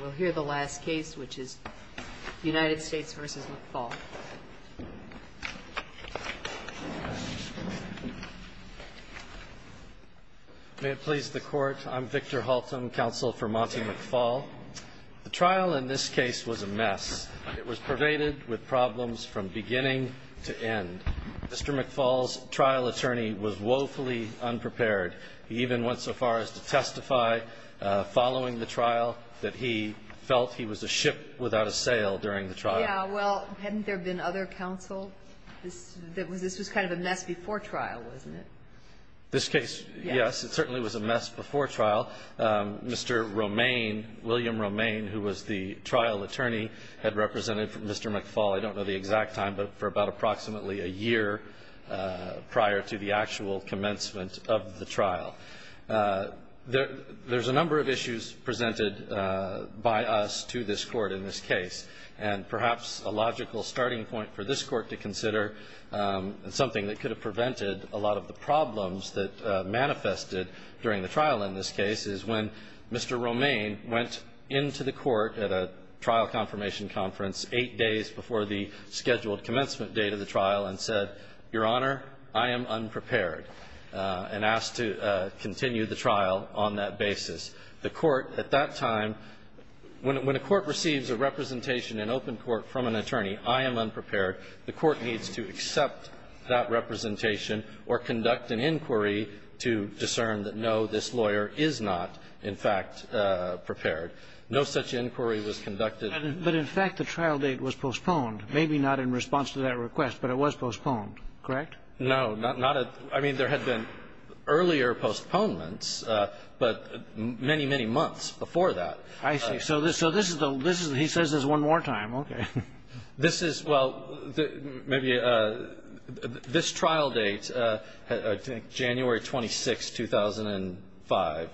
We'll hear the last case, which is United States v. McFall. May it please the Court, I'm Victor Halton, counsel for Monty McFall. The trial in this case was a mess. It was pervaded with problems from beginning to end. Mr. McFall's trial attorney was woefully unprepared. He even went so far as to testify following the trial that he felt he was a ship without a sail during the trial. Yeah, well, hadn't there been other counsel? This was kind of a mess before trial, wasn't it? This case, yes, it certainly was a mess before trial. Mr. Romaine, William Romaine, who was the trial attorney, had represented Mr. McFall, I don't know the exact time, but for about approximately a year prior to the actual commencement of the trial. There's a number of issues presented by us to this Court in this case. And perhaps a logical starting point for this Court to consider, something that could have prevented a lot of the problems that manifested during the trial in this case, is when Mr. Romaine went into the Court at a trial confirmation conference eight days before the scheduled commencement date of the trial and said, Your Honor, I am unprepared, and asked to continue the trial on that basis. The Court at that time, when a court receives a representation in open court from an attorney, I am unprepared, the Court needs to accept that representation or conduct an inquiry to discern that, no, this lawyer is not, in fact, prepared. No such inquiry was conducted. But, in fact, the trial date was postponed. Maybe not in response to that request, but it was postponed. Correct? No. Not a – I mean, there had been earlier postponements, but many, many months before that. I see. So this is the – he says this one more time. Okay. This is – well, maybe – this trial date, I think January 26, 2005,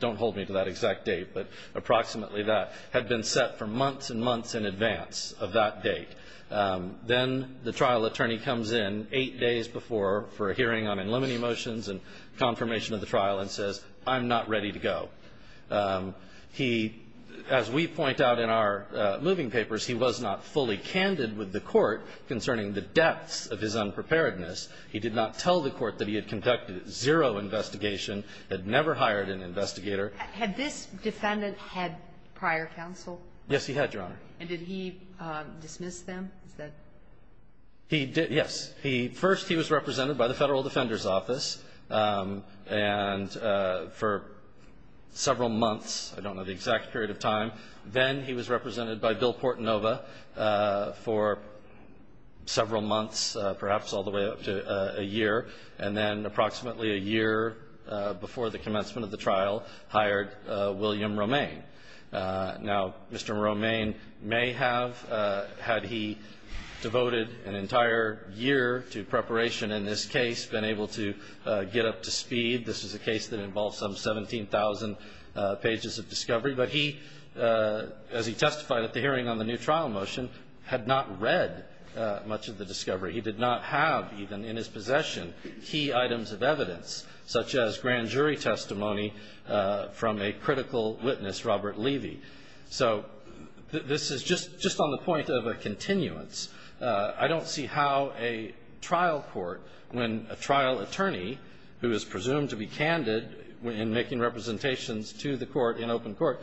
don't hold me to that exact date, but approximately that, had been set for months and months in advance of that date. Then the trial attorney comes in eight days before for a hearing on unlimited motions and confirmation of the trial and says, I'm not ready to go. He – as we point out in our moving papers, he was not fully candid with the Court concerning the depths of his unpreparedness. He did not tell the Court that he had conducted zero investigation, had never hired an investigator. Had this defendant had prior counsel? Yes, he had, Your Honor. And did he dismiss them? He did – yes. He – first, he was represented by the Federal Defender's Office. And for several months – I don't know the exact period of time. Then he was represented by Bill Portonova for several months, perhaps all the way up to a year. And then approximately a year before the commencement of the trial, hired William Romaine. Now, Mr. Romaine may have, had he devoted an entire year to preparation in this case, been able to get up to speed. This is a case that involves some 17,000 pages of discovery. But he, as he testified at the hearing on the new trial motion, had not read much of the discovery. He did not have even in his possession key items of evidence, such as grand jury testimony, from a critical witness, Robert Levy. So this is just on the point of a continuance. I don't see how a trial court, when a trial attorney, who is presumed to be candid in making representations to the court in open court,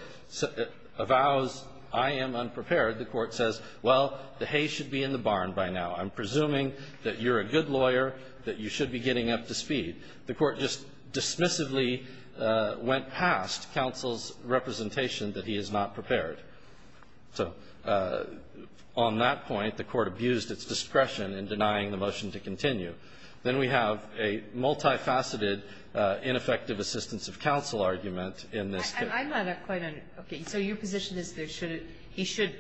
avows, I am unprepared. The court says, well, the hay should be in the barn by now. I'm presuming that you're a good lawyer, that you should be getting up to speed. The court just dismissively went past counsel's representation that he is not prepared. So on that point, the court abused its discretion in denying the motion to continue. Then we have a multifaceted, ineffective assistance of counsel argument in this case. Kagan. I'm not quite on it. Okay. So your position is that he should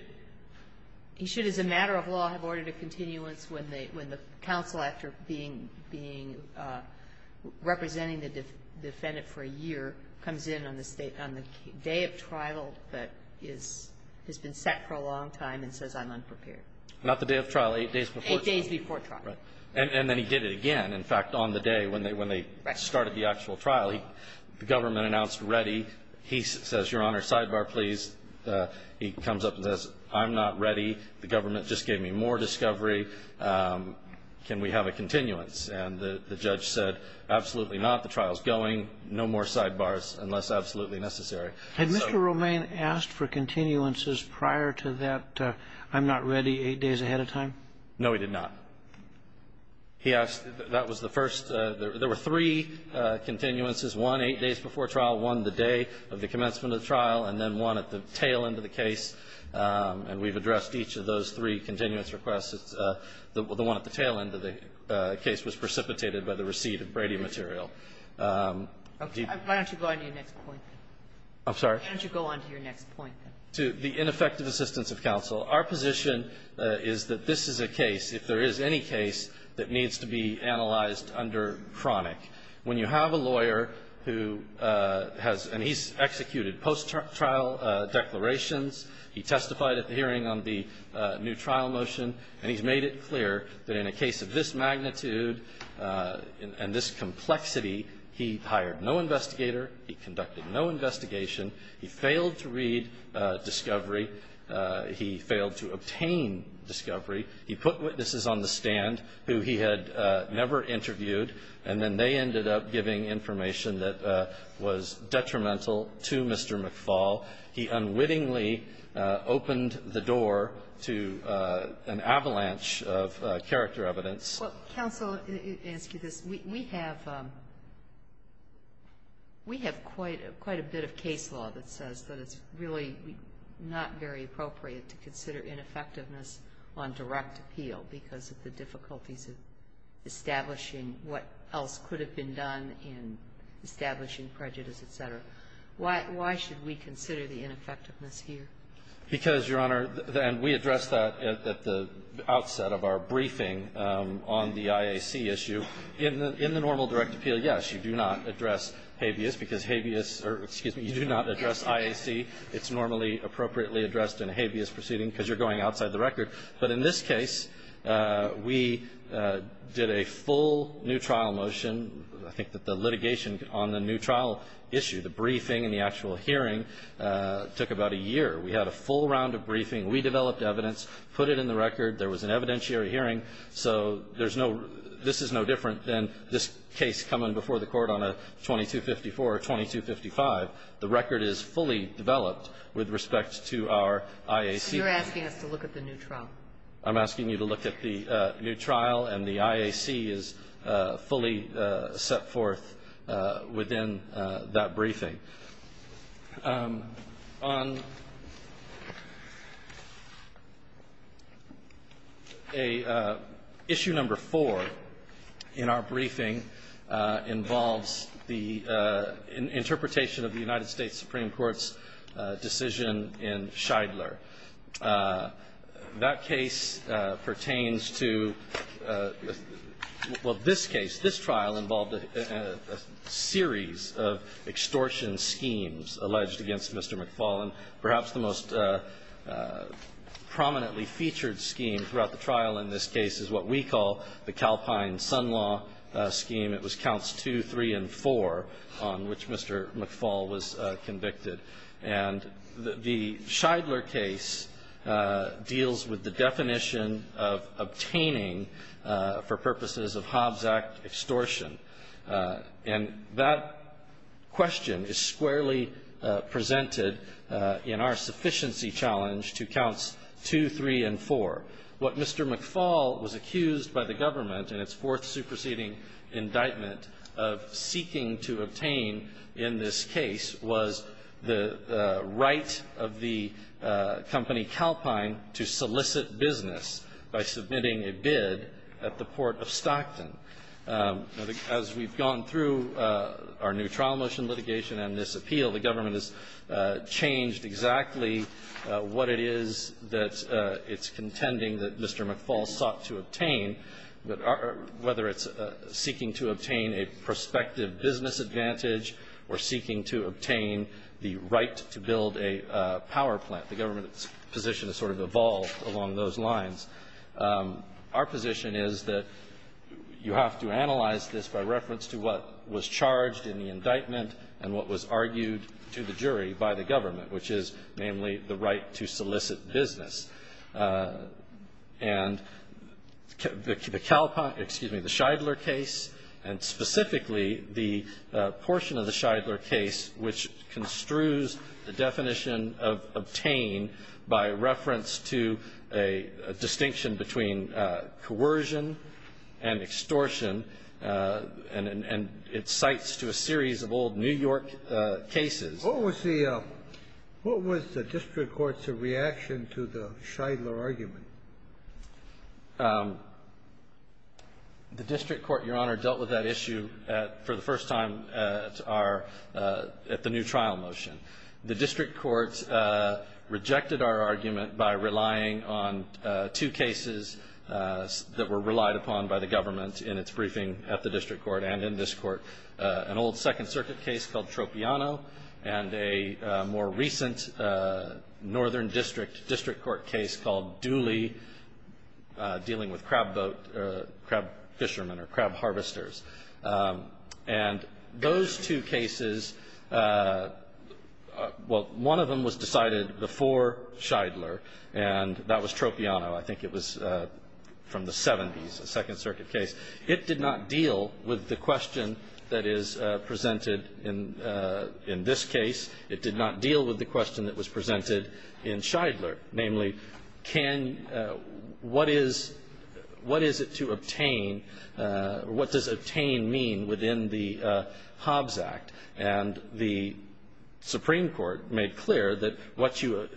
as a matter of law have ordered a continuance when the counsel, after being, representing the defendant for a year, comes in on the day of trial, but has been set for a long time and says, I'm unprepared? Not the day of trial. Eight days before trial. Eight days before trial. Right. And then he did it again. In fact, on the day when they started the actual trial, the government announced ready. He says, Your Honor, sidebar, please. He comes up and says, I'm not ready. The government just gave me more discovery. Can we have a continuance? And the judge said, absolutely not. The trial is going. No more sidebars unless absolutely necessary. Had Mr. Romain asked for continuances prior to that, I'm not ready, eight days ahead of time? No, he did not. He asked, that was the first. There were three continuances. One, eight days before trial. One, the day of the commencement of the trial. And then one at the tail end of the case. And we've addressed each of those three continuance requests. The one at the tail end of the case was precipitated by the receipt of Brady material. Okay. Why don't you go on to your next point? I'm sorry? Why don't you go on to your next point? To the ineffective assistance of counsel. Our position is that this is a case, if there is any case, that needs to be analyzed under chronic. When you have a lawyer who has, and he's executed post-trial declarations. He testified at the hearing on the new trial motion. And he's made it clear that in a case of this magnitude and this complexity, he hired no investigator. He conducted no investigation. He failed to read discovery. He failed to obtain discovery. He put witnesses on the stand who he had never interviewed. And then they ended up giving information that was detrimental to Mr. McFall. He unwittingly opened the door to an avalanche of character evidence. Counsel, excuse me. We have quite a bit of case law that says that it's really not very appropriate to consider ineffectiveness on direct appeal because of the difficulties of establishing what else could have been done in establishing prejudice, et cetera. Why should we consider the ineffectiveness here? Because, Your Honor, and we addressed that at the outset of our briefing on the IAC issue, in the normal direct appeal, yes, you do not address habeas because habeas or, excuse me, you do not address IAC. It's normally appropriately addressed in a habeas proceeding because you're going outside the record. But in this case, we did a full new trial motion. I think that the litigation on the new trial issue, the briefing and the actual hearing, took about a year. We had a full round of briefing. We developed evidence, put it in the record. There was an evidentiary hearing. So there's no, this is no different than this case coming before the Court on a 2254 or 2255. The record is fully developed with respect to our IAC. So you're asking us to look at the new trial? I'm asking you to look at the new trial, and the IAC is fully set forth within that briefing. On issue number four in our briefing involves the interpretation of the United States Supreme Court's decision in Shidler. That case pertains to, well, this case, this trial involved a series of extortion schemes alleged against Mr. McFaul. And perhaps the most prominently featured scheme throughout the trial in this case is what we call the Calpine-Sun law scheme. It was counts two, three, and four on which Mr. McFaul was convicted. And the Shidler case deals with the definition of obtaining for purposes of Hobbs Act extortion. And that question is squarely presented in our sufficiency challenge to counts two, three, and four. What Mr. McFaul was accused by the government in its fourth superseding indictment of seeking to obtain in this case was the right of the company Calpine to solicit business by submitting a bid at the Port of Stockton. As we've gone through our new trial motion litigation and this appeal, the government has changed exactly what it is that it's contending that Mr. McFaul sought to obtain, whether it's seeking to obtain a prospective business advantage or seeking to obtain the right to build a power plant. The government's position has sort of evolved along those lines. Our position is that you have to analyze this by reference to what was charged in the indictment and what was argued to the jury by the government, which is namely the right to solicit business. And the Calpine --" excuse me, the Shidler case, and specifically the portion of the Shidler case which construes the definition of obtain by reference to a distinction between coercion and extortion, and it cites to a series of old New York cases. What was the district court's reaction to the Shidler argument? The district court, Your Honor, dealt with that issue for the first time at our new trial motion. The district court rejected our argument by relying on two cases that were relied upon by the government in its briefing at the district court and in this court, an old Second Circuit case called Tropiano and a more recent northern district court case called Dooley dealing with crab boat, crab fishermen or crab harvesters. And those two cases, well, one of them was decided before Shidler, and that was Tropiano. I think it was from the 70s, a Second Circuit case. It did not deal with the question that is presented in this case. It did not deal with the question that was presented in Shidler, namely, what is it to obtain or what does obtain mean within the Hobbs Act? And the Supreme Court made clear that what you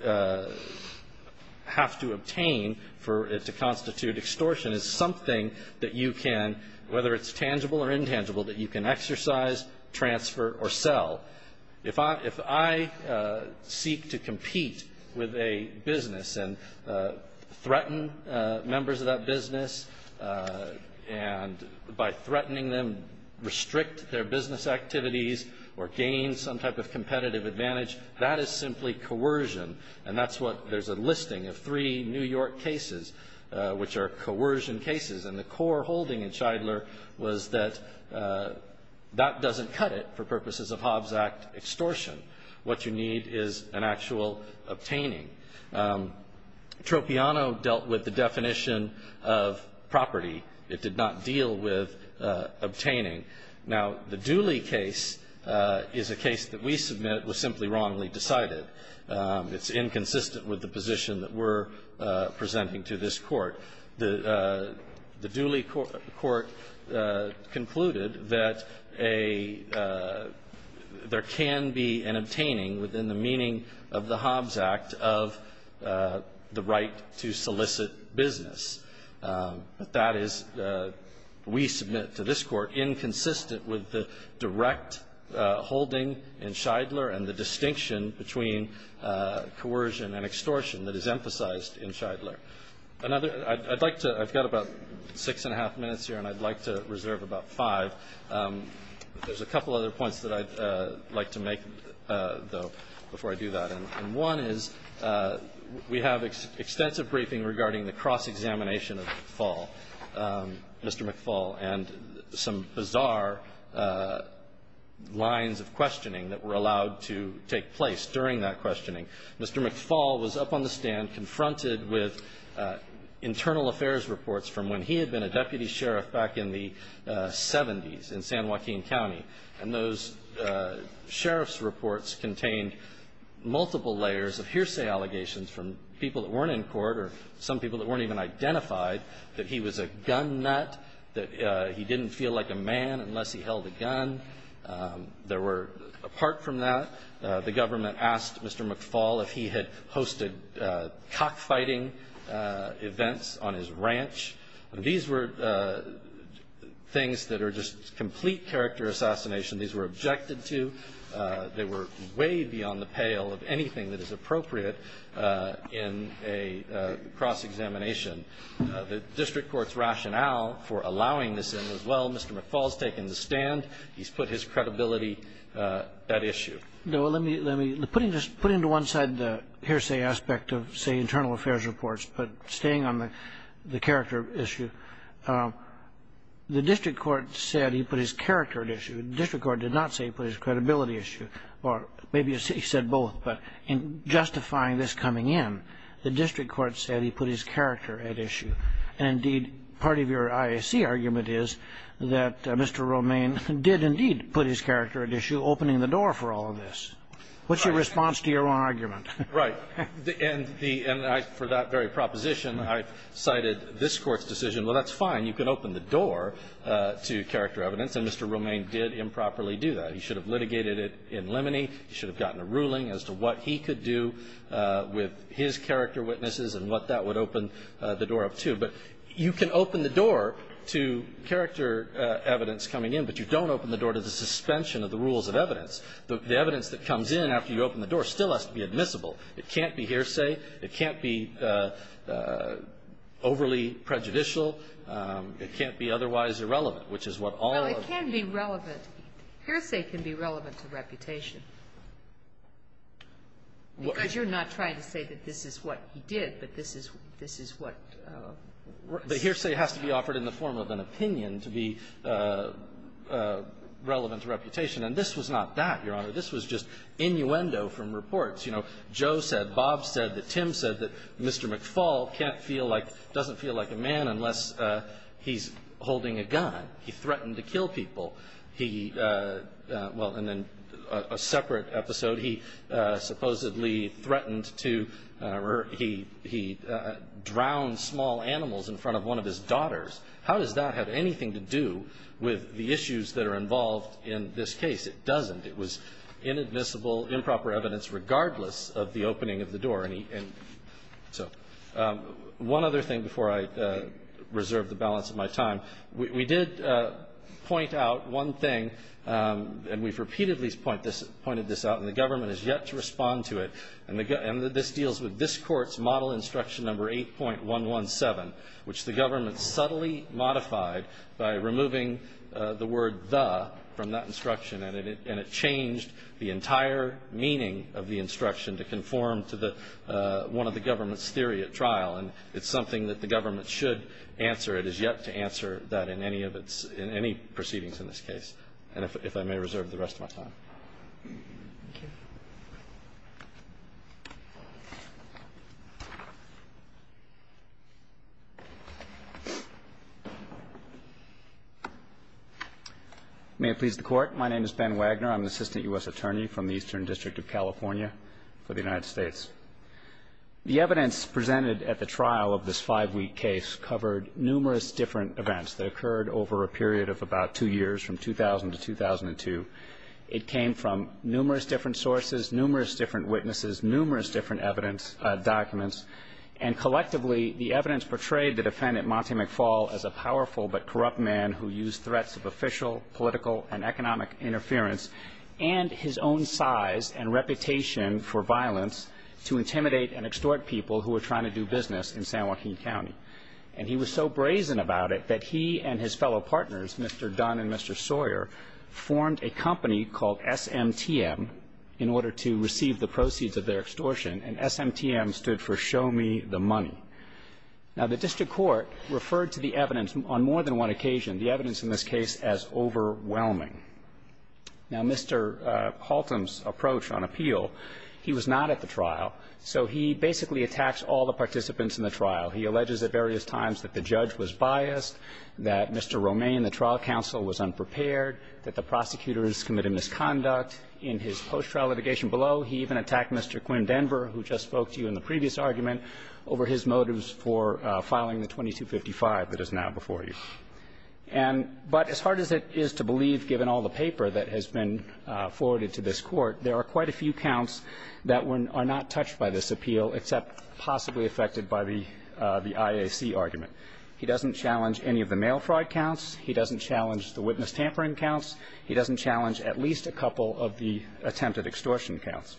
have to obtain for it to constitute extortion is something that you can, whether it's tangible or intangible, that you can exercise, transfer or sell. If I seek to compete with a business and threaten members of that business and by threatening them, restrict their business activities or gain some type of competitive advantage, that is simply coercion. And that's what there's a listing of three New York cases, which are coercion cases. And the core holding in Shidler was that that doesn't cut it for purposes of Hobbs Act extortion. What you need is an actual obtaining. Tropiano dealt with the definition of property. It did not deal with obtaining. Now, the Dooley case is a case that we submit was simply wrongly decided. It's inconsistent with the position that we're presenting to this Court. The Dooley Court concluded that there can be an obtaining within the meaning of the Hobbs Act of the right to solicit business. But that is, we submit to this Court, inconsistent with the direct holding in Shidler and the distinction between coercion and extortion that is emphasized in Shidler. I've got about six and a half minutes here, and I'd like to reserve about five. There's a couple other points that I'd like to make, though, before I do that. And one is we have extensive briefing regarding the cross-examination of McFaul, Mr. McFaul, and some bizarre lines of questioning that were allowed to take place during that questioning. Mr. McFaul was up on the stand confronted with internal affairs reports from when he had been a deputy sheriff back in the 70s in San Joaquin County. And those sheriff's reports contained multiple layers of hearsay allegations from people that weren't in court or some people that weren't even identified that he was a gun nut, that he didn't feel like a man unless he held a gun. There were, apart from that, the government asked Mr. McFaul if he had hosted cockfighting events on his ranch. And these were things that are just complete character assassination. These were objected to. They were way beyond the pale of anything that is appropriate in a cross-examination. The district court's rationale for allowing this in was, well, Mr. McFaul's taken the stand. He's put his credibility at issue. No. Let me put into one side the hearsay aspect of, say, internal affairs reports. But staying on the character issue, the district court said he put his character at issue. The district court did not say he put his credibility at issue. Or maybe he said both. But in justifying this coming in, the district court said he put his character at issue. And, indeed, part of your IAC argument is that Mr. Romain did, indeed, put his character at issue, opening the door for all of this. What's your response to your own argument? Right. And for that very proposition, I cited this Court's decision, well, that's fine. You can open the door to character evidence. And Mr. Romain did improperly do that. He should have litigated it in limine. He should have gotten a ruling as to what he could do with his character witnesses and what that would open the door up to. But you can open the door to character evidence coming in, but you don't open the door to the suspension of the rules of evidence. The evidence that comes in after you open the door still has to be admissible. It can't be hearsay. It can't be overly prejudicial. It can't be otherwise irrelevant, which is what all of the other cases are. Well, it can be relevant. Hearsay can be relevant to reputation. Because you're not trying to say that this is what he did, but this is what the hearsay has to be offered in the form of an opinion to be relevant to reputation. And this was not that, Your Honor. This was just innuendo from reports. You know, Joe said, Bob said that Tim said that Mr. McFaul can't feel like, doesn't feel like a man unless he's holding a gun. He threatened to kill people. He, well, and then a separate episode, he supposedly threatened to, he drowned small animals in front of one of his daughters. How does that have anything to do with the issues that are involved in this case? It doesn't. It was inadmissible, improper evidence regardless of the opening of the door. So one other thing before I reserve the balance of my time. We did point out one thing, and we've repeatedly pointed this out, and the government has yet to respond to it. And this deals with this Court's model instruction number 8.117, which the government subtly modified by removing the word the from that instruction. And it changed the entire meaning of the instruction to conform to the, one of the government's theory at trial. And it's something that the government should answer. It has yet to answer that in any of its, in any proceedings in this case. And if I may reserve the rest of my time. Thank you. May it please the Court. My name is Ben Wagner. I'm an Assistant U.S. Attorney from the Eastern District of California for the United States. The evidence presented at the trial of this five-week case covered numerous different events. They occurred over a period of about two years, from 2000 to 2002. It came from numerous different sources, numerous different witnesses, numerous different evidence documents. And collectively, the evidence portrayed the defendant, Monty McFall, as a powerful but corrupt man who used threats of official, political, and economic interference and his own size and reputation for violence to intimidate and extort people who were trying to do business in San Joaquin County. And he was so brazen about it that he and his fellow partners, Mr. Dunn and Mr. Sawyer, formed a company called SMTM in order to receive the proceeds of their extortion, and SMTM stood for Show Me the Money. Now, the district court referred to the evidence on more than one occasion, the evidence in this case as overwhelming. Now, Mr. Haltom's approach on appeal, he was not at the trial, so he basically attacks all the participants in the trial. He alleges at various times that the judge was biased, that Mr. Romaine, the trial counsel, was unprepared, that the prosecutors committed misconduct. In his post-trial litigation below, he even attacked Mr. Quinn Denver, who just spoke to you in the previous argument, over his motives for filing the 2255 that is now before you. And but as hard as it is to believe, given all the paper that has been forwarded to this Court, there are quite a few counts that are not touched by this appeal except possibly affected by the IAC argument. He doesn't challenge any of the mail fraud counts. He doesn't challenge the witness tampering counts. He doesn't challenge at least a couple of the attempted extortion counts.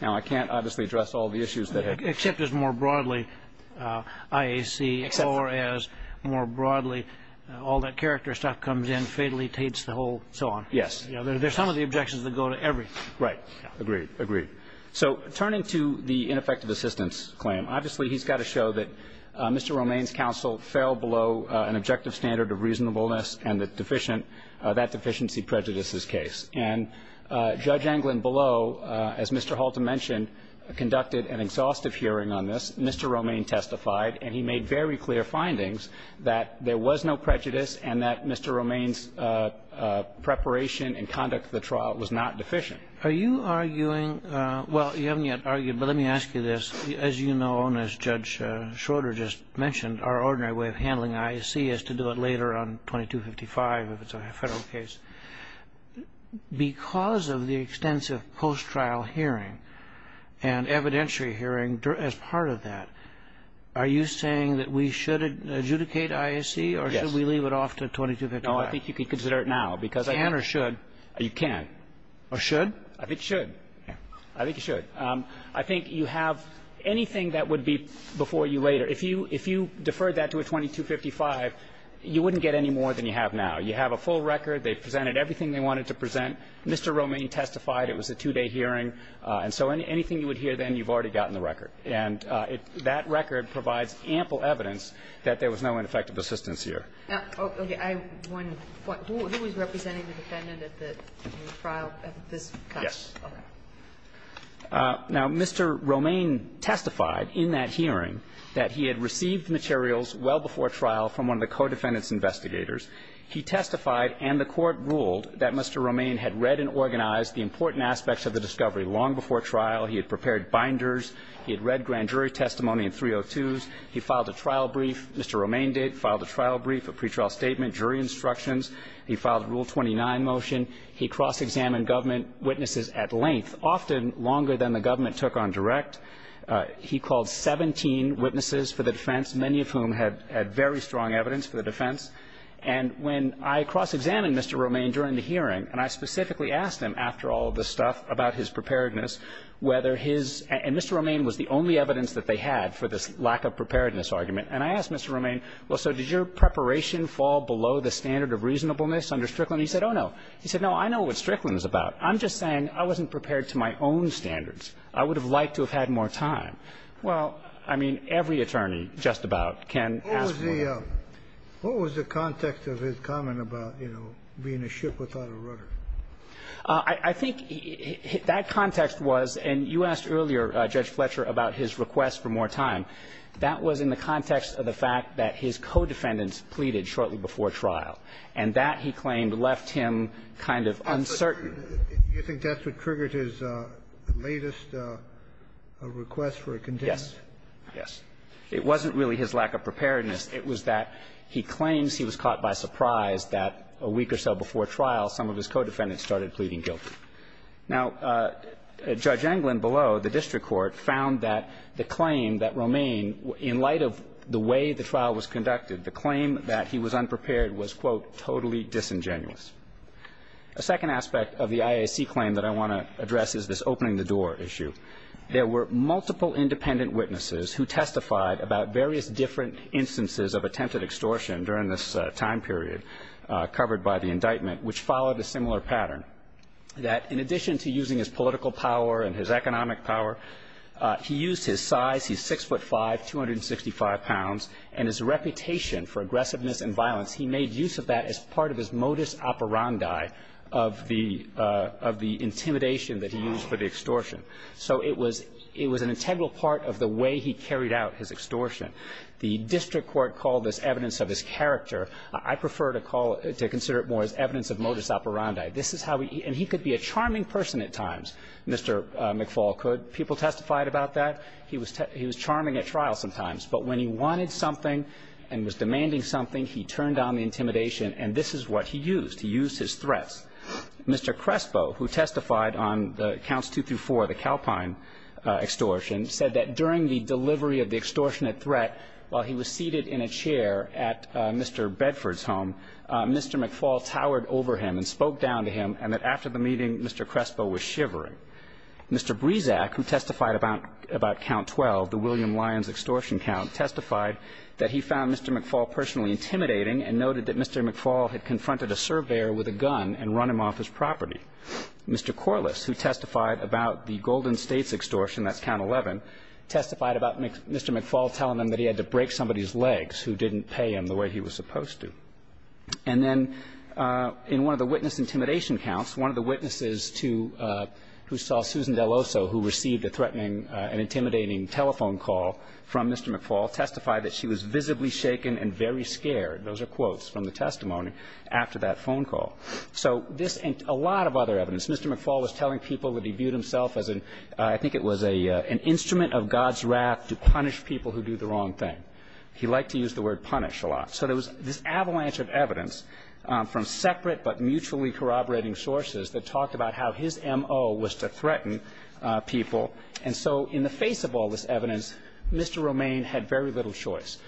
Now, I can't, obviously, address all the issues that have been raised. Except as more broadly, IAC, or as more broadly, all that character stuff comes in, fatally taints the whole, so on. Yes. There are some of the objections that go to everything. Right. Agreed. So turning to the ineffective assistance claim, obviously, he's got to show that Mr. Romaine's counsel fell below an objective standard of reasonableness and the deficient, that deficiency prejudices case. And Judge Anglin below, as Mr. Halter mentioned, conducted an exhaustive hearing on this. Mr. Romaine testified, and he made very clear findings that there was no prejudice and that Mr. Romaine's preparation and conduct of the trial was not deficient. Are you arguing, well, you haven't yet argued, but let me ask you this. As you know, and as Judge Schroeder just mentioned, our ordinary way of handling IAC is to do it later on 2255, if it's a federal case. Because of the extensive post-trial hearing and evidentiary hearing as part of that, are you saying that we should adjudicate IAC, or should we leave it off to 2255? No, I think you could consider it now. Can or should? You can. Or should? I think you should. I think you should. Anything that would be before you later, if you deferred that to a 2255, you wouldn't get any more than you have now. You have a full record. They presented everything they wanted to present. Mr. Romaine testified. It was a two-day hearing. And so anything you would hear then, you've already gotten the record. And that record provides ample evidence that there was no ineffective assistance here. Okay. I have one point. Who was representing the defendant at the trial at this time? Yes. Now, Mr. Romaine testified in that hearing that he had received materials well before trial from one of the co-defendants' investigators. He testified, and the Court ruled, that Mr. Romaine had read and organized the important aspects of the discovery long before trial. He had prepared binders. He had read grand jury testimony in 302s. He filed a trial brief, Mr. Romaine did, filed a trial brief, a pretrial statement, jury instructions. He filed a Rule 29 motion. He cross-examined government witnesses at length, often longer than the government took on direct. He called 17 witnesses for the defense, many of whom had very strong evidence for the defense. And when I cross-examined Mr. Romaine during the hearing, and I specifically asked him, after all of this stuff, about his preparedness, whether his – and Mr. Romaine was the only evidence that they had for this lack of preparedness argument. And I asked Mr. Romaine, well, so did your preparation fall below the standard of reasonableness under Strickland? And he said, oh, no. He said, no, I know what Strickland is about. I'm just saying I wasn't prepared to my own standards. I would have liked to have had more time. Well, I mean, every attorney just about can ask for more. What was the context of his comment about, you know, being a ship without a rudder? I think that context was – and you asked earlier, Judge Fletcher, about his request for more time. That was in the context of the fact that his co-defendants pleaded shortly before the trial, and that, he claimed, left him kind of uncertain. You think that's what triggered his latest request for a contempt? Yes. Yes. It wasn't really his lack of preparedness. It was that he claims he was caught by surprise that a week or so before trial, some of his co-defendants started pleading guilty. Now, Judge Englund below the district court found that the claim that Romaine, in light of the way the trial was conducted, the claim that he was unprepared was, quote, totally disingenuous. A second aspect of the IAC claim that I want to address is this opening the door issue. There were multiple independent witnesses who testified about various different instances of attempted extortion during this time period covered by the indictment, which followed a similar pattern, that in addition to using his political power and his economic power, he used his size. He's 6'5", 265 pounds, and his reputation for aggressiveness and violence, he made use of that as part of his modus operandi of the intimidation that he used for the extortion. So it was an integral part of the way he carried out his extortion. The district court called this evidence of his character. I prefer to call it, to consider it more as evidence of modus operandi. This is how he – and he could be a charming person at times, Mr. McFaul could. People testified about that. He was charming at trial sometimes. But when he wanted something and was demanding something, he turned down the intimidation, and this is what he used. He used his threats. Mr. Crespo, who testified on the counts 2 through 4, the Calpine extortion, said that during the delivery of the extortionate threat, while he was seated in a chair at Mr. Bedford's home, Mr. McFaul towered over him and spoke down to him and that after the meeting, Mr. Crespo was shivering. Mr. Brezak, who testified about Count 12, the William Lyons extortion count, testified that he found Mr. McFaul personally intimidating and noted that Mr. McFaul had confronted a surveyor with a gun and run him off his property. Mr. Corliss, who testified about the Golden States extortion, that's Count 11, testified about Mr. McFaul telling him that he had to break somebody's legs who didn't pay him the way he was supposed to. And then in one of the witness intimidation counts, one of the witnesses to who saw Susan Deloso, who received a threatening and intimidating telephone call from Mr. McFaul, testified that she was visibly shaken and very scared. Those are quotes from the testimony after that phone call. So this and a lot of other evidence. Mr. McFaul was telling people that he viewed himself as an – I think it was an instrument of God's wrath to punish people who do the wrong thing. He liked to use the word punish a lot. So there was this avalanche of evidence from separate but mutually corroborating sources that talked about how his M.O. was to threaten people. And so in the face of all this evidence, Mr. Romaine had very little choice.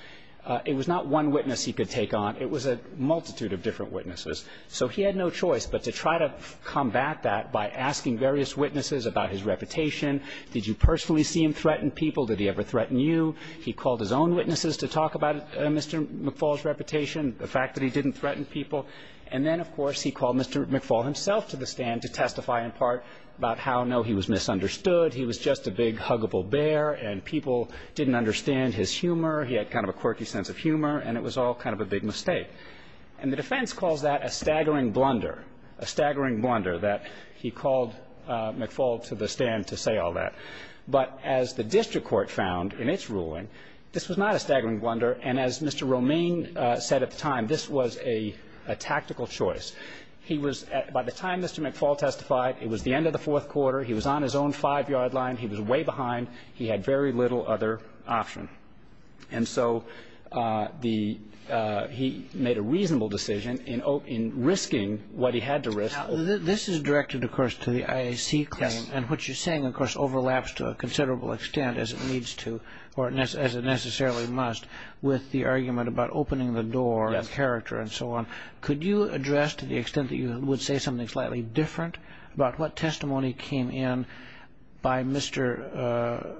It was not one witness he could take on. It was a multitude of different witnesses. So he had no choice but to try to combat that by asking various witnesses about his reputation. Did you personally see him threaten people? Did he ever threaten you? He called his own witnesses to talk about Mr. McFaul's reputation, the fact that he didn't threaten people. And then, of course, he called Mr. McFaul himself to the stand to testify in part about how, no, he was misunderstood. He was just a big, huggable bear, and people didn't understand his humor. He had kind of a quirky sense of humor, and it was all kind of a big mistake. And the defense calls that a staggering blunder, a staggering blunder, that he called McFaul to the stand to say all that. But as the district court found in its ruling, this was not a staggering blunder. And as Mr. Romaine said at the time, this was a tactical choice. He was at the time Mr. McFaul testified, it was the end of the fourth quarter. He was on his own five-yard line. He was way behind. He had very little other option. And so the he made a reasonable decision in risking what he had to risk. Now, this is directed, of course, to the IAC claim, and what you're saying, of course, overlaps to a considerable extent, as it needs to, or as it necessarily must, with the argument about opening the door and character and so on. Could you address, to the extent that you would say something slightly different, about what testimony came in by Mr.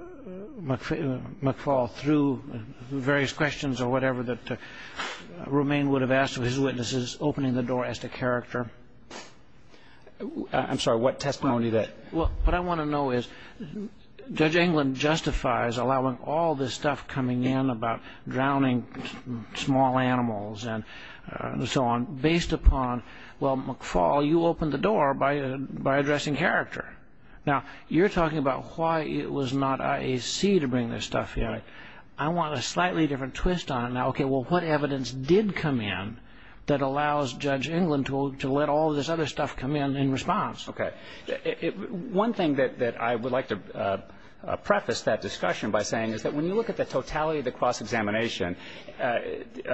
McFaul through various questions or whatever that Romaine would have asked of his witnesses opening the door as to character? I'm sorry, what testimony? What I want to know is, Judge England justifies allowing all this stuff coming in about drowning small animals and so on based upon, well, McFaul, you opened the door by addressing character. Now, you're talking about why it was not IAC to bring this stuff in. I want a slightly different twist on it. Now, okay, well, what evidence did come in that allows Judge England to let all this other stuff come in in response? Okay. One thing that I would like to preface that discussion by saying is that when you look at the totality of the cross-examination, the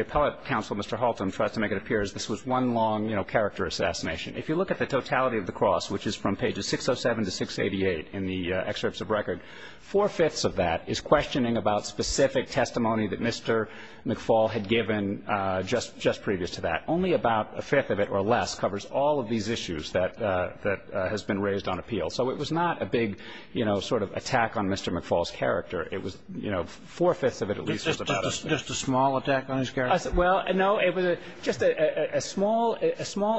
appellate counsel, Mr. Halton, tried to make it appear as if this was one long character assassination. If you look at the totality of the cross, which is from pages 607 to 688 in the excerpts of record, four-fifths of that is questioning about specific testimony that Mr. McFaul had given just previous to that. Only about a fifth of it or less covers all of these issues that has been raised on appeal. So it was not a big, you know, sort of attack on Mr. McFaul's character. It was, you know, four-fifths of it at least was about it. Just a small attack on his character? Well, no. It was just a small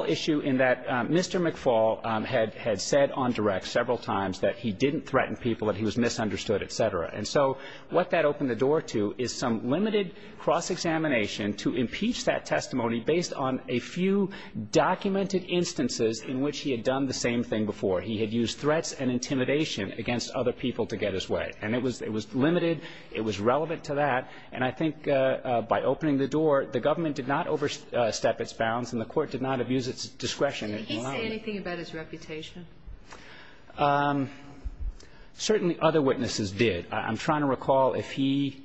issue in that Mr. McFaul had said on direct several times that he didn't threaten people, that he was misunderstood, et cetera. And so what that opened the door to is some limited cross-examination to impeach that testimony based on a few documented instances in which he had done the same thing before. He had used threats and intimidation against other people to get his way. And it was limited. It was relevant to that. And I think by opening the door, the government did not overstep its bounds and the Court did not abuse its discretion. Did he say anything about his reputation? Certainly other witnesses did. I'm trying to recall if he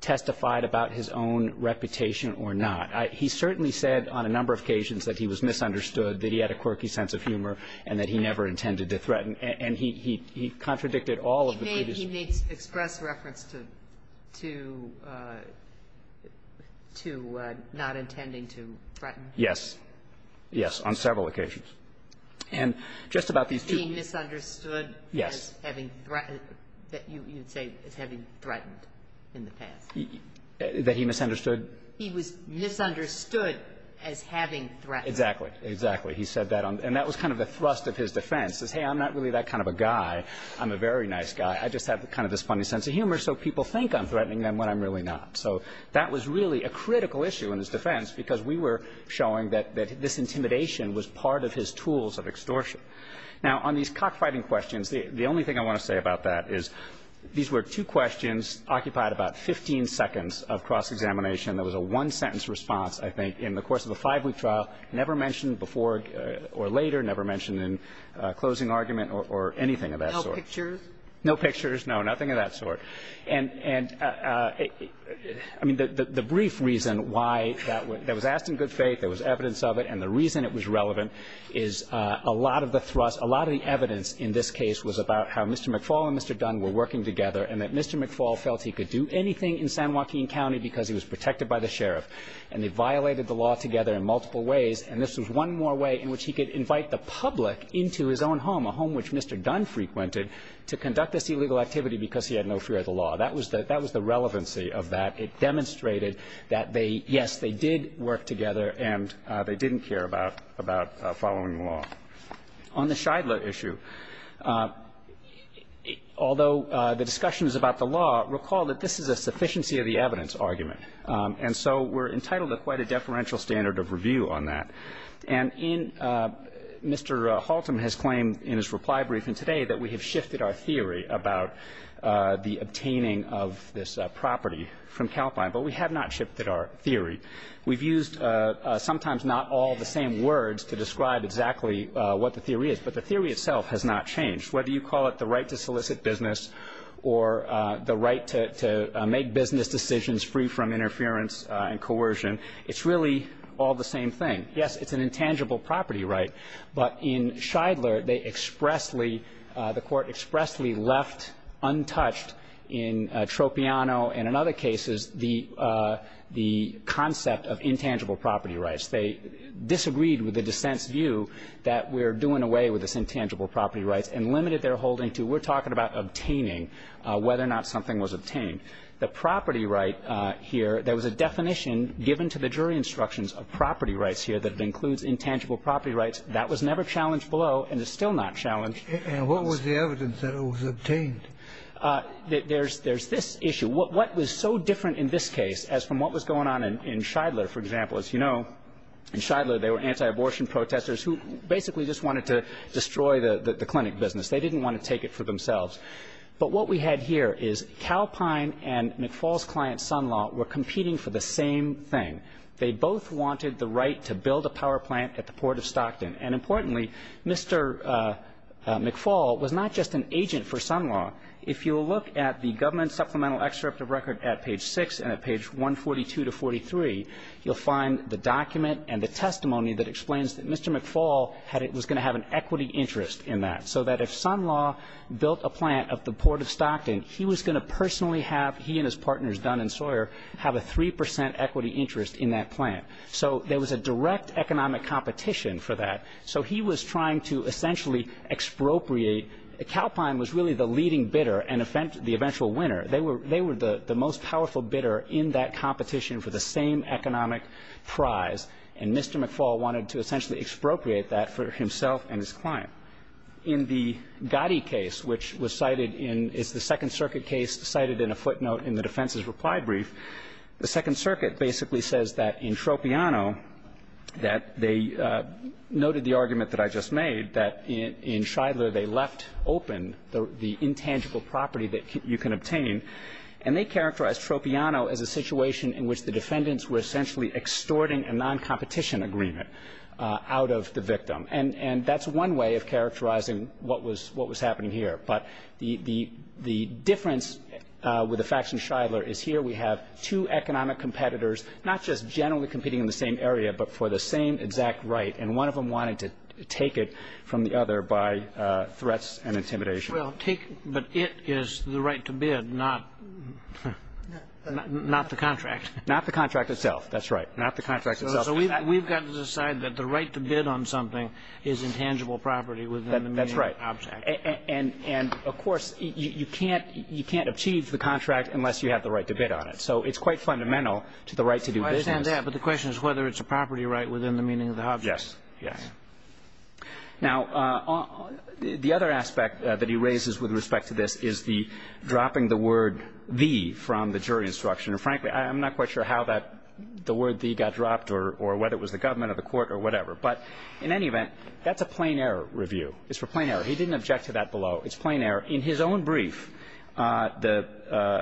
testified about his own reputation or not. He certainly said on a number of occasions that he was misunderstood, that he had a quirky sense of humor, and that he never intended to threaten. And he contradicted all of the previous. He did express reference to not intending to threaten. Yes. Yes, on several occasions. And just about these two. He was being misunderstood. Yes. As having threatened. You would say as having threatened in the past. That he misunderstood. He was misunderstood as having threatened. Exactly. Exactly. He said that. And that was kind of the thrust of his defense, is, hey, I'm not really that kind of a guy. I'm a very nice guy. I just have kind of this funny sense of humor, so people think I'm threatening them when I'm really not. So that was really a critical issue in his defense, because we were showing that this intimidation was part of his tools of extortion. Now, on these cockfighting questions, the only thing I want to say about that is, these were two questions occupied about 15 seconds of cross-examination. There was a one-sentence response, I think, in the course of a five-week trial, never mentioned before or later, never mentioned in closing argument or anything of that sort. And the one-sentence response was, I don't know. I don't know. And the brief reason why that was asked in good faith, there was evidence of it, and the reason it was relevant is a lot of the thrust, a lot of the evidence in this case was about how Mr. McFaul and Mr. Dunn were working together and that Mr. McFaul felt he could do anything in San Joaquin County because he was protected by the sheriff. And they violated the law together in multiple ways, and this was one more way in which he could invite the public into his own home, a home which Mr. Dunn frequented, to conduct this illegal activity because he had no fear of the law. That was the relevancy of that. It demonstrated that they, yes, they did work together and they didn't care about following the law. On the Shidla issue, although the discussion was about the law, recall that this is a sufficiency of the evidence argument. And so we're entitled to quite a deferential standard of review on that. And in Mr. Haltom has claimed in his reply briefing today that we have shifted our theory about the obtaining of this property from Calpine, but we have not shifted our theory. We've used sometimes not all the same words to describe exactly what the theory is, but the theory itself has not changed. Whether you call it the right to solicit business or the right to make business decisions free from interference and coercion, it's really all the same thing. Yes, it's an intangible property right. But in Shidla, they expressly, the Court expressly left untouched in Tropiano and in other cases the concept of intangible property rights. They disagreed with the dissent's view that we're doing away with this intangible property rights and limited their holding to, we're talking about obtaining whether or not something was obtained. The property right here, there was a definition given to the jury instructions of property rights here that it includes intangible property rights. That was never challenged below and is still not challenged. And what was the evidence that it was obtained? There's this issue. What was so different in this case as from what was going on in Shidla, for example, as you know, in Shidla they were anti-abortion protesters who basically just wanted to destroy the clinic business. They didn't want to take it for themselves. But what we had here is Calpine and McFall's client, Sun Law, were competing for the same thing. They both wanted the right to build a power plant at the Port of Stockton. And importantly, Mr. McFall was not just an agent for Sun Law. If you'll look at the government supplemental excerpt of record at page 6 and at page 142 to 43, you'll find the document and the testimony that explains that Mr. McFall was going to have an equity interest in that. So that if Sun Law built a plant at the Port of Stockton, he was going to personally have he and his partners Dunn and Sawyer have a 3 percent equity interest in that plant. So there was a direct economic competition for that. So he was trying to essentially expropriate. Calpine was really the leading bidder and the eventual winner. They were the most powerful bidder in that competition for the same economic prize, and Mr. McFall wanted to essentially expropriate that for himself and his client. Now, in the Gotti case, which was cited in the Second Circuit case, cited in a footnote in the defense's reply brief, the Second Circuit basically says that in Tropiano that they noted the argument that I just made, that in Shidler they left open the intangible property that you can obtain. And they characterized Tropiano as a situation in which the defendants were essentially extorting a noncompetition agreement out of the victim. And that's one way of characterizing what was happening here. But the difference with the facts in Shidler is here we have two economic competitors, not just generally competing in the same area, but for the same exact right. And one of them wanted to take it from the other by threats and intimidation. But it is the right to bid, not the contract. Not the contract itself, that's right. Not the contract itself. So we've got to decide that the right to bid on something is intangible property within the meaning of the object. That's right. And, of course, you can't achieve the contract unless you have the right to bid on it. So it's quite fundamental to the right to do business. I understand that. But the question is whether it's a property right within the meaning of the object. Yes. Yes. Now, the other aspect that he raises with respect to this is the dropping the word the from the jury instruction. And, frankly, I'm not quite sure how that the word the got dropped or whether it was the government or the court or whatever. But in any event, that's a plain error review. It's for plain error. He didn't object to that below. It's plain error. In his own brief, the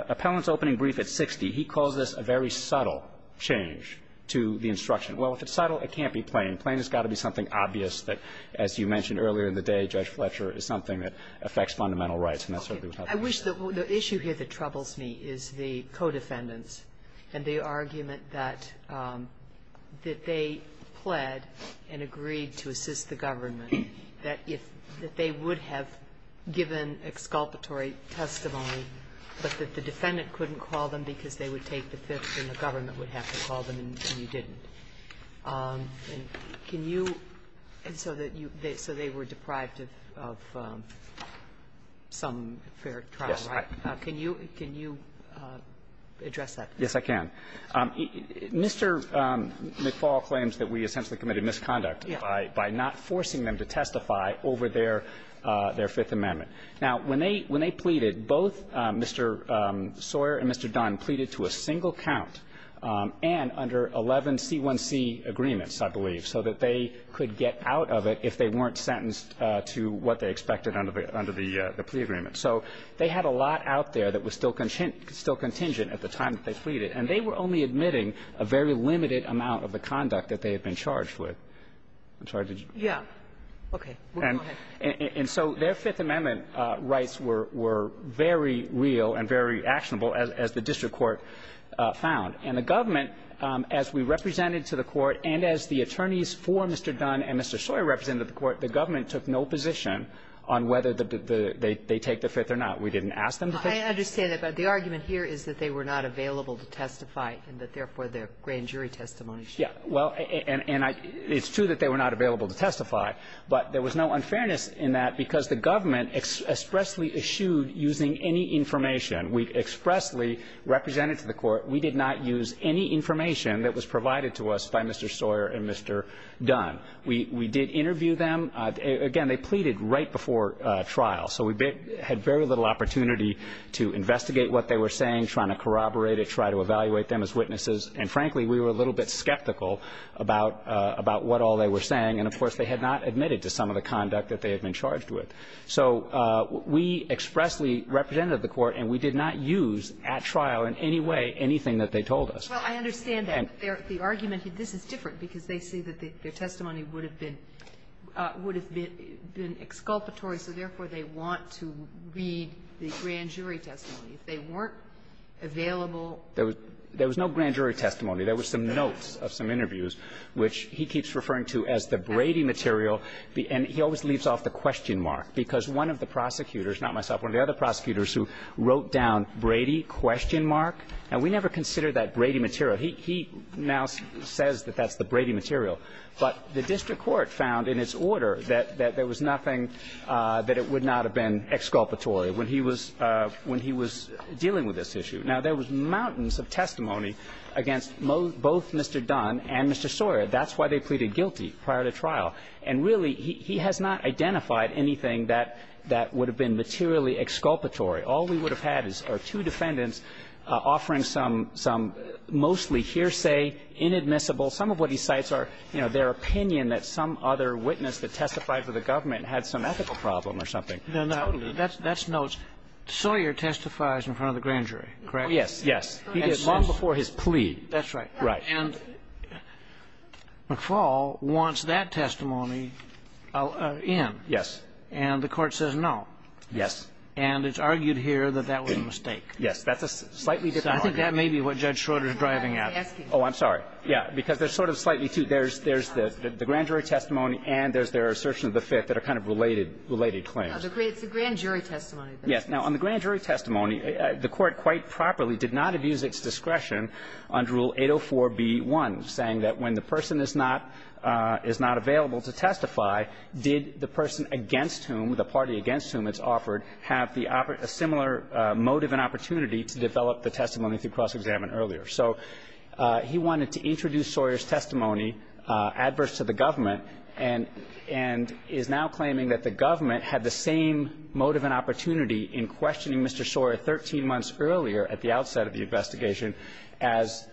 appellant's opening brief at 60, he calls this a very subtle change to the instruction. Well, if it's subtle, it can't be plain. Plain has got to be something obvious that, as you mentioned earlier in the day, Judge Fletcher, is something that affects fundamental rights. I wish the issue here that troubles me is the co-defendants and the argument that they pled and agreed to assist the government, that they would have given exculpatory testimony but that the defendant couldn't call them because they would take the fifth and the government would have to call them and you didn't. And so they were deprived of some fair trial, right? Yes. Can you address that? Yes, I can. Mr. McFaul claims that we essentially committed misconduct by not forcing them to testify over their Fifth Amendment. Now, when they pleaded, both Mr. Sawyer and Mr. Dunn pleaded to a single count and under 11C1C agreements, I believe, so that they could get out of it if they weren't sentenced to what they expected under the plea agreement. So they had a lot out there that was still contingent at the time that they pleaded, and they were only admitting a very limited amount of the conduct that they had been charged with. I'm sorry. Yeah. Okay. Go ahead. And so their Fifth Amendment rights were very real and very actionable, as the district court found. And the government, as we represented to the court, and as the attorneys for Mr. Dunn and Mr. Sawyer represented to the court, the government took no position on whether they take the Fifth or not. We didn't ask them to take it. I understand that. But the argument here is that they were not available to testify and that, therefore, their grand jury testimony should be held. Yeah. Well, and it's true that they were not available to testify, but there was no unfairness in that because the government expressly eschewed using any information. We expressly represented to the court. We did not use any information that was provided to us by Mr. Sawyer and Mr. Dunn. We did interview them. Again, they pleaded right before trial. So we had very little opportunity to investigate what they were saying, trying to corroborate it, try to evaluate them as witnesses. And, frankly, we were a little bit skeptical about what all they were saying. And, of course, they had not admitted to some of the conduct that they had been charged with. So we expressly represented the court, and we did not use at trial in any way anything that they told us. Well, I understand that. The argument here, this is different, because they see that their testimony would have been, would have been exculpatory. So, therefore, they want to read the grand jury testimony. If they weren't available to testify. There was no grand jury testimony. There were some notes of some interviews, which he keeps referring to as the Brady material. And he always leaves off the question mark, because one of the prosecutors, not myself, one of the other prosecutors who wrote down Brady question mark. Now, we never considered that Brady material. He now says that that's the Brady material. But the district court found in its order that there was nothing that it would not have been exculpatory when he was dealing with this issue. Now, there was mountains of testimony against both Mr. Dunn and Mr. Sawyer. That's why they pleaded guilty prior to trial. And, really, he has not identified anything that would have been materially exculpatory. All we would have had are two defendants offering some mostly hearsay, inadmissible – some of what he cites are, you know, their opinion that some other witness that testified for the government had some ethical problem or something. Totally. That's notes. Sawyer testifies in front of the grand jury, correct? Yes. He did long before his plea. That's right. And McFaul wants that testimony in. Yes. And the Court says no. Yes. And it's argued here that that was a mistake. Yes. That's a slightly different argument. I think that may be what Judge Schroeder is driving at. Oh, I'm sorry. Yeah, because there's sort of slightly two. There's the grand jury testimony and there's their assertion of the Fifth that are kind of related claims. No, it's the grand jury testimony. Yes. Now, on the grand jury testimony, the Court quite properly did not abuse its discretion under Rule 804b1, saying that when the person is not available to testify, did the person against whom, the party against whom it's offered, have a similar motive and opportunity to develop the testimony through cross-examination earlier. So he wanted to introduce Sawyer's testimony adverse to the government and is now claiming that the government had the same motive and opportunity in questioning Mr. Sawyer 13 months earlier at the outset of the investigation as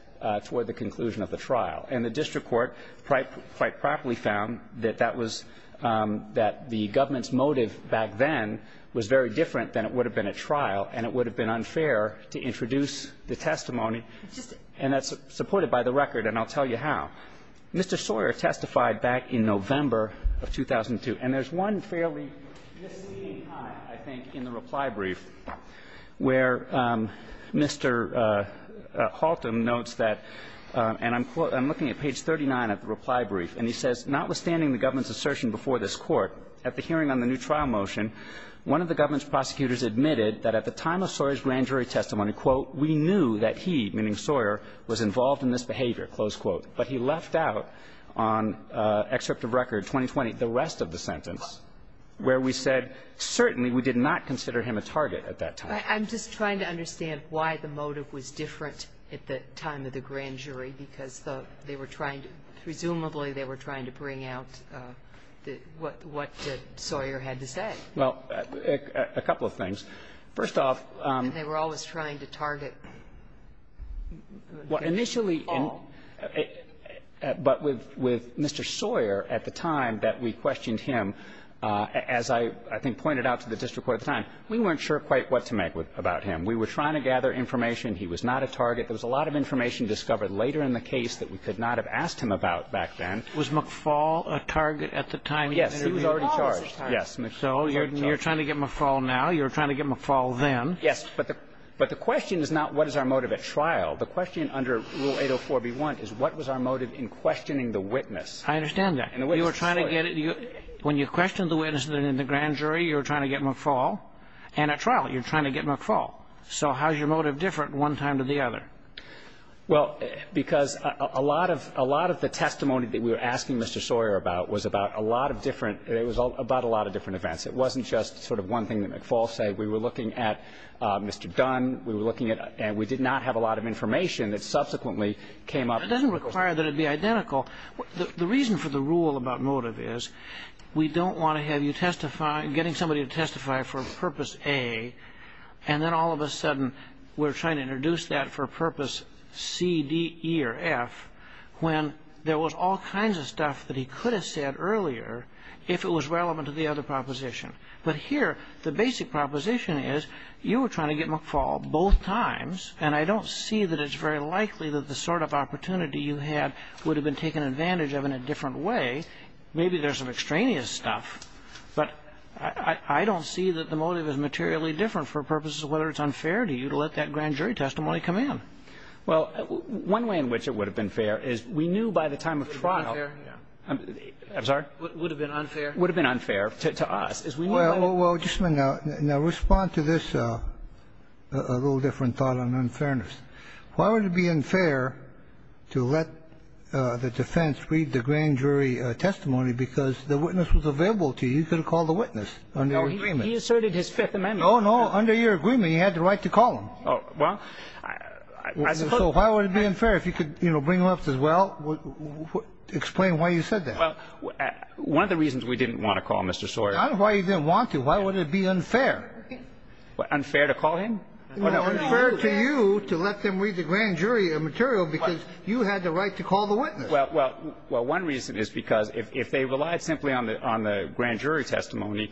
toward the conclusion of the trial. And the district court quite properly found that that was that the government's motive back then was very different than it would have been at trial and it would have been unfair to introduce the testimony, and that's supported by the record and I'll tell you how. Mr. Sawyer testified back in November of 2002, and there's one fairly misleading line, I think, in the reply brief where Mr. Haltom notes that, and I'm looking at page 39 of the reply brief, and he says, Notwithstanding the government's assertion before this Court, at the hearing on the new trial motion, one of the government's prosecutors admitted that at the time of Sawyer's grand jury testimony, quote, We knew that he, meaning Sawyer, was involved in this behavior, close quote. But he left out on excerpt of record 2020 the rest of the sentence, where we said certainly we did not consider him a target at that time. I'm just trying to understand why the motive was different at the time of the grand jury, because they were trying to, presumably they were trying to bring out what Sawyer had to say. Well, a couple of things. First off they were always trying to target. Well, initially, but with Mr. Sawyer at the time that we questioned him, as I think he pointed out to the district court at the time, we weren't sure quite what to make about him. We were trying to gather information. He was not a target. There was a lot of information discovered later in the case that we could not have asked him about back then. Was McFall a target at the time? Yes. He was already charged. So you're trying to get McFall now. You were trying to get McFall then. Yes. But the question is not what is our motive at trial. The question under Rule 804b1 is what was our motive in questioning the witness. I understand that. You were trying to get it. When you questioned the witness in the grand jury, you were trying to get McFall. And at trial you're trying to get McFall. So how is your motive different one time to the other? Well, because a lot of the testimony that we were asking Mr. Sawyer about was about a lot of different ‑‑ it was about a lot of different events. It wasn't just sort of one thing that McFall said. We were looking at Mr. Dunn. We were looking at ‑‑ and we did not have a lot of information that subsequently came up. It doesn't require that it be identical. The reason for the rule about motive is we don't want to have you testify, getting somebody to testify for Purpose A, and then all of a sudden we're trying to introduce that for Purpose C, D, E, or F when there was all kinds of stuff that he could have said earlier if it was relevant to the other proposition. But here the basic proposition is you were trying to get McFall both times, and I don't see that it's very likely that the sort of opportunity you had would have been taken advantage of in a different way. Maybe there's some extraneous stuff, but I don't see that the motive is materially different for purposes of whether it's unfair to you to let that grand jury testimony come in. Well, one way in which it would have been fair is we knew by the time of trial It would have been unfair. I'm sorry? It would have been unfair. It would have been unfair to us. Well, just a minute. Now, respond to this a little different thought on unfairness. Why would it be unfair to let the defense read the grand jury testimony because the witness was available to you? You could have called the witness under your agreement. He asserted his Fifth Amendment. Oh, no. Under your agreement, he had the right to call him. Well, I suppose. So why would it be unfair? If you could, you know, bring him up and say, well, explain why you said that. Well, one of the reasons we didn't want to call Mr. Sawyer. That's why you didn't want to. Why would it be unfair? Unfair to call him? Unfair to you to let them read the grand jury material because you had the right to call the witness. Well, one reason is because if they relied simply on the grand jury testimony,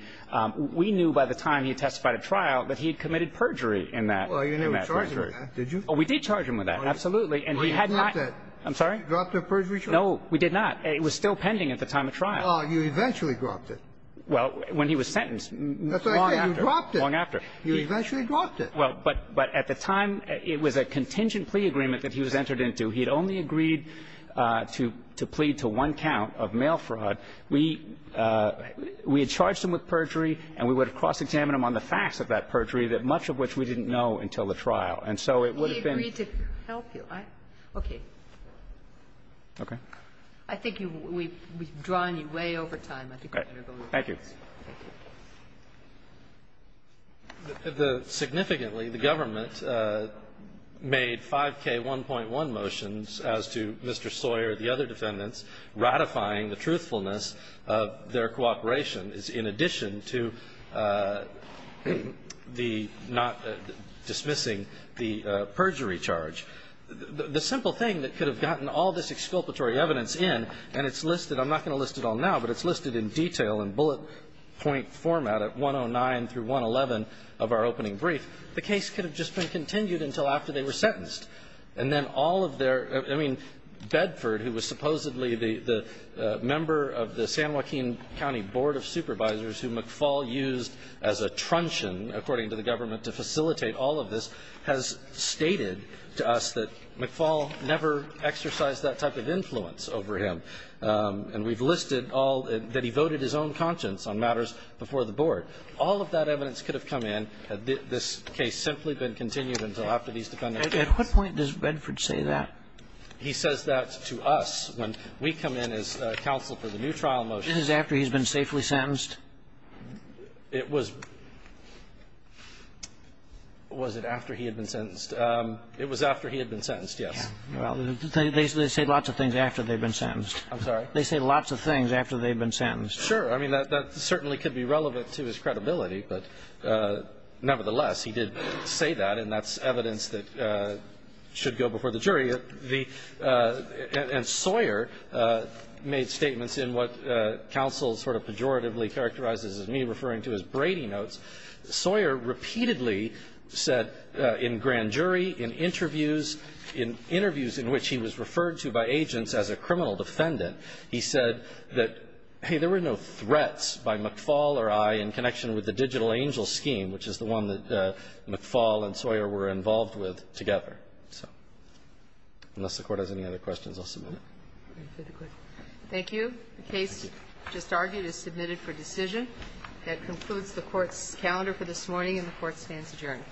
we knew by the time he testified at trial that he had committed perjury in that grand jury. Well, you didn't charge him with that, did you? Oh, we did charge him with that, absolutely. And he had not. You dropped it. I'm sorry? You dropped the perjury charge. No, we did not. It was still pending at the time of trial. Oh, you eventually dropped it. Well, when he was sentenced, long after. That's what I said. You dropped it. You eventually dropped it. Well, but at the time, it was a contingent plea agreement that he was entered into. He had only agreed to plead to one count of mail fraud. We had charged him with perjury, and we would have cross-examined him on the facts of that perjury, much of which we didn't know until the trial. And so it would have been. We agreed to help you. Okay. Okay. I think we've drawn you way over time. Thank you. Thank you. Significantly, the government made 5K1.1 motions as to Mr. Sawyer, the other defendants, ratifying the truthfulness of their cooperation in addition to the not dismissing the perjury charge. The simple thing that could have gotten all this exculpatory evidence in, and it's listed in detail in bullet point format at 109 through 111 of our opening brief, the case could have just been continued until after they were sentenced. And then all of their, I mean, Bedford, who was supposedly the member of the San Joaquin County Board of Supervisors who McFaul used as a truncheon, according to the government, to facilitate all of this, has stated to us that McFaul never exercised that type of influence over him. And we've listed all that he voted his own conscience on matters before the board. All of that evidence could have come in had this case simply been continued until after these defendants were sentenced. At what point does Bedford say that? He says that to us when we come in as counsel for the new trial motion. This is after he's been safely sentenced? It was – was it after he had been sentenced? It was after he had been sentenced, yes. Well, they say lots of things after they've been sentenced. I'm sorry? They say lots of things after they've been sentenced. Sure. I mean, that certainly could be relevant to his credibility. But nevertheless, he did say that, and that's evidence that should go before the jury. The – and Sawyer made statements in what counsel sort of pejoratively characterizes as me referring to as Brady notes. Sawyer repeatedly said in grand jury, in interviews, in interviews in which he was referred to by agents as a criminal defendant, he said that, hey, there were no threats by McFaul or I in connection with the digital angel scheme, which is the one that McFaul and Sawyer were involved with together. So unless the Court has any other questions, I'll submit it. Thank you. The case just argued is submitted for decision. That concludes the Court's calendar for this morning, and the Court stands adjourned.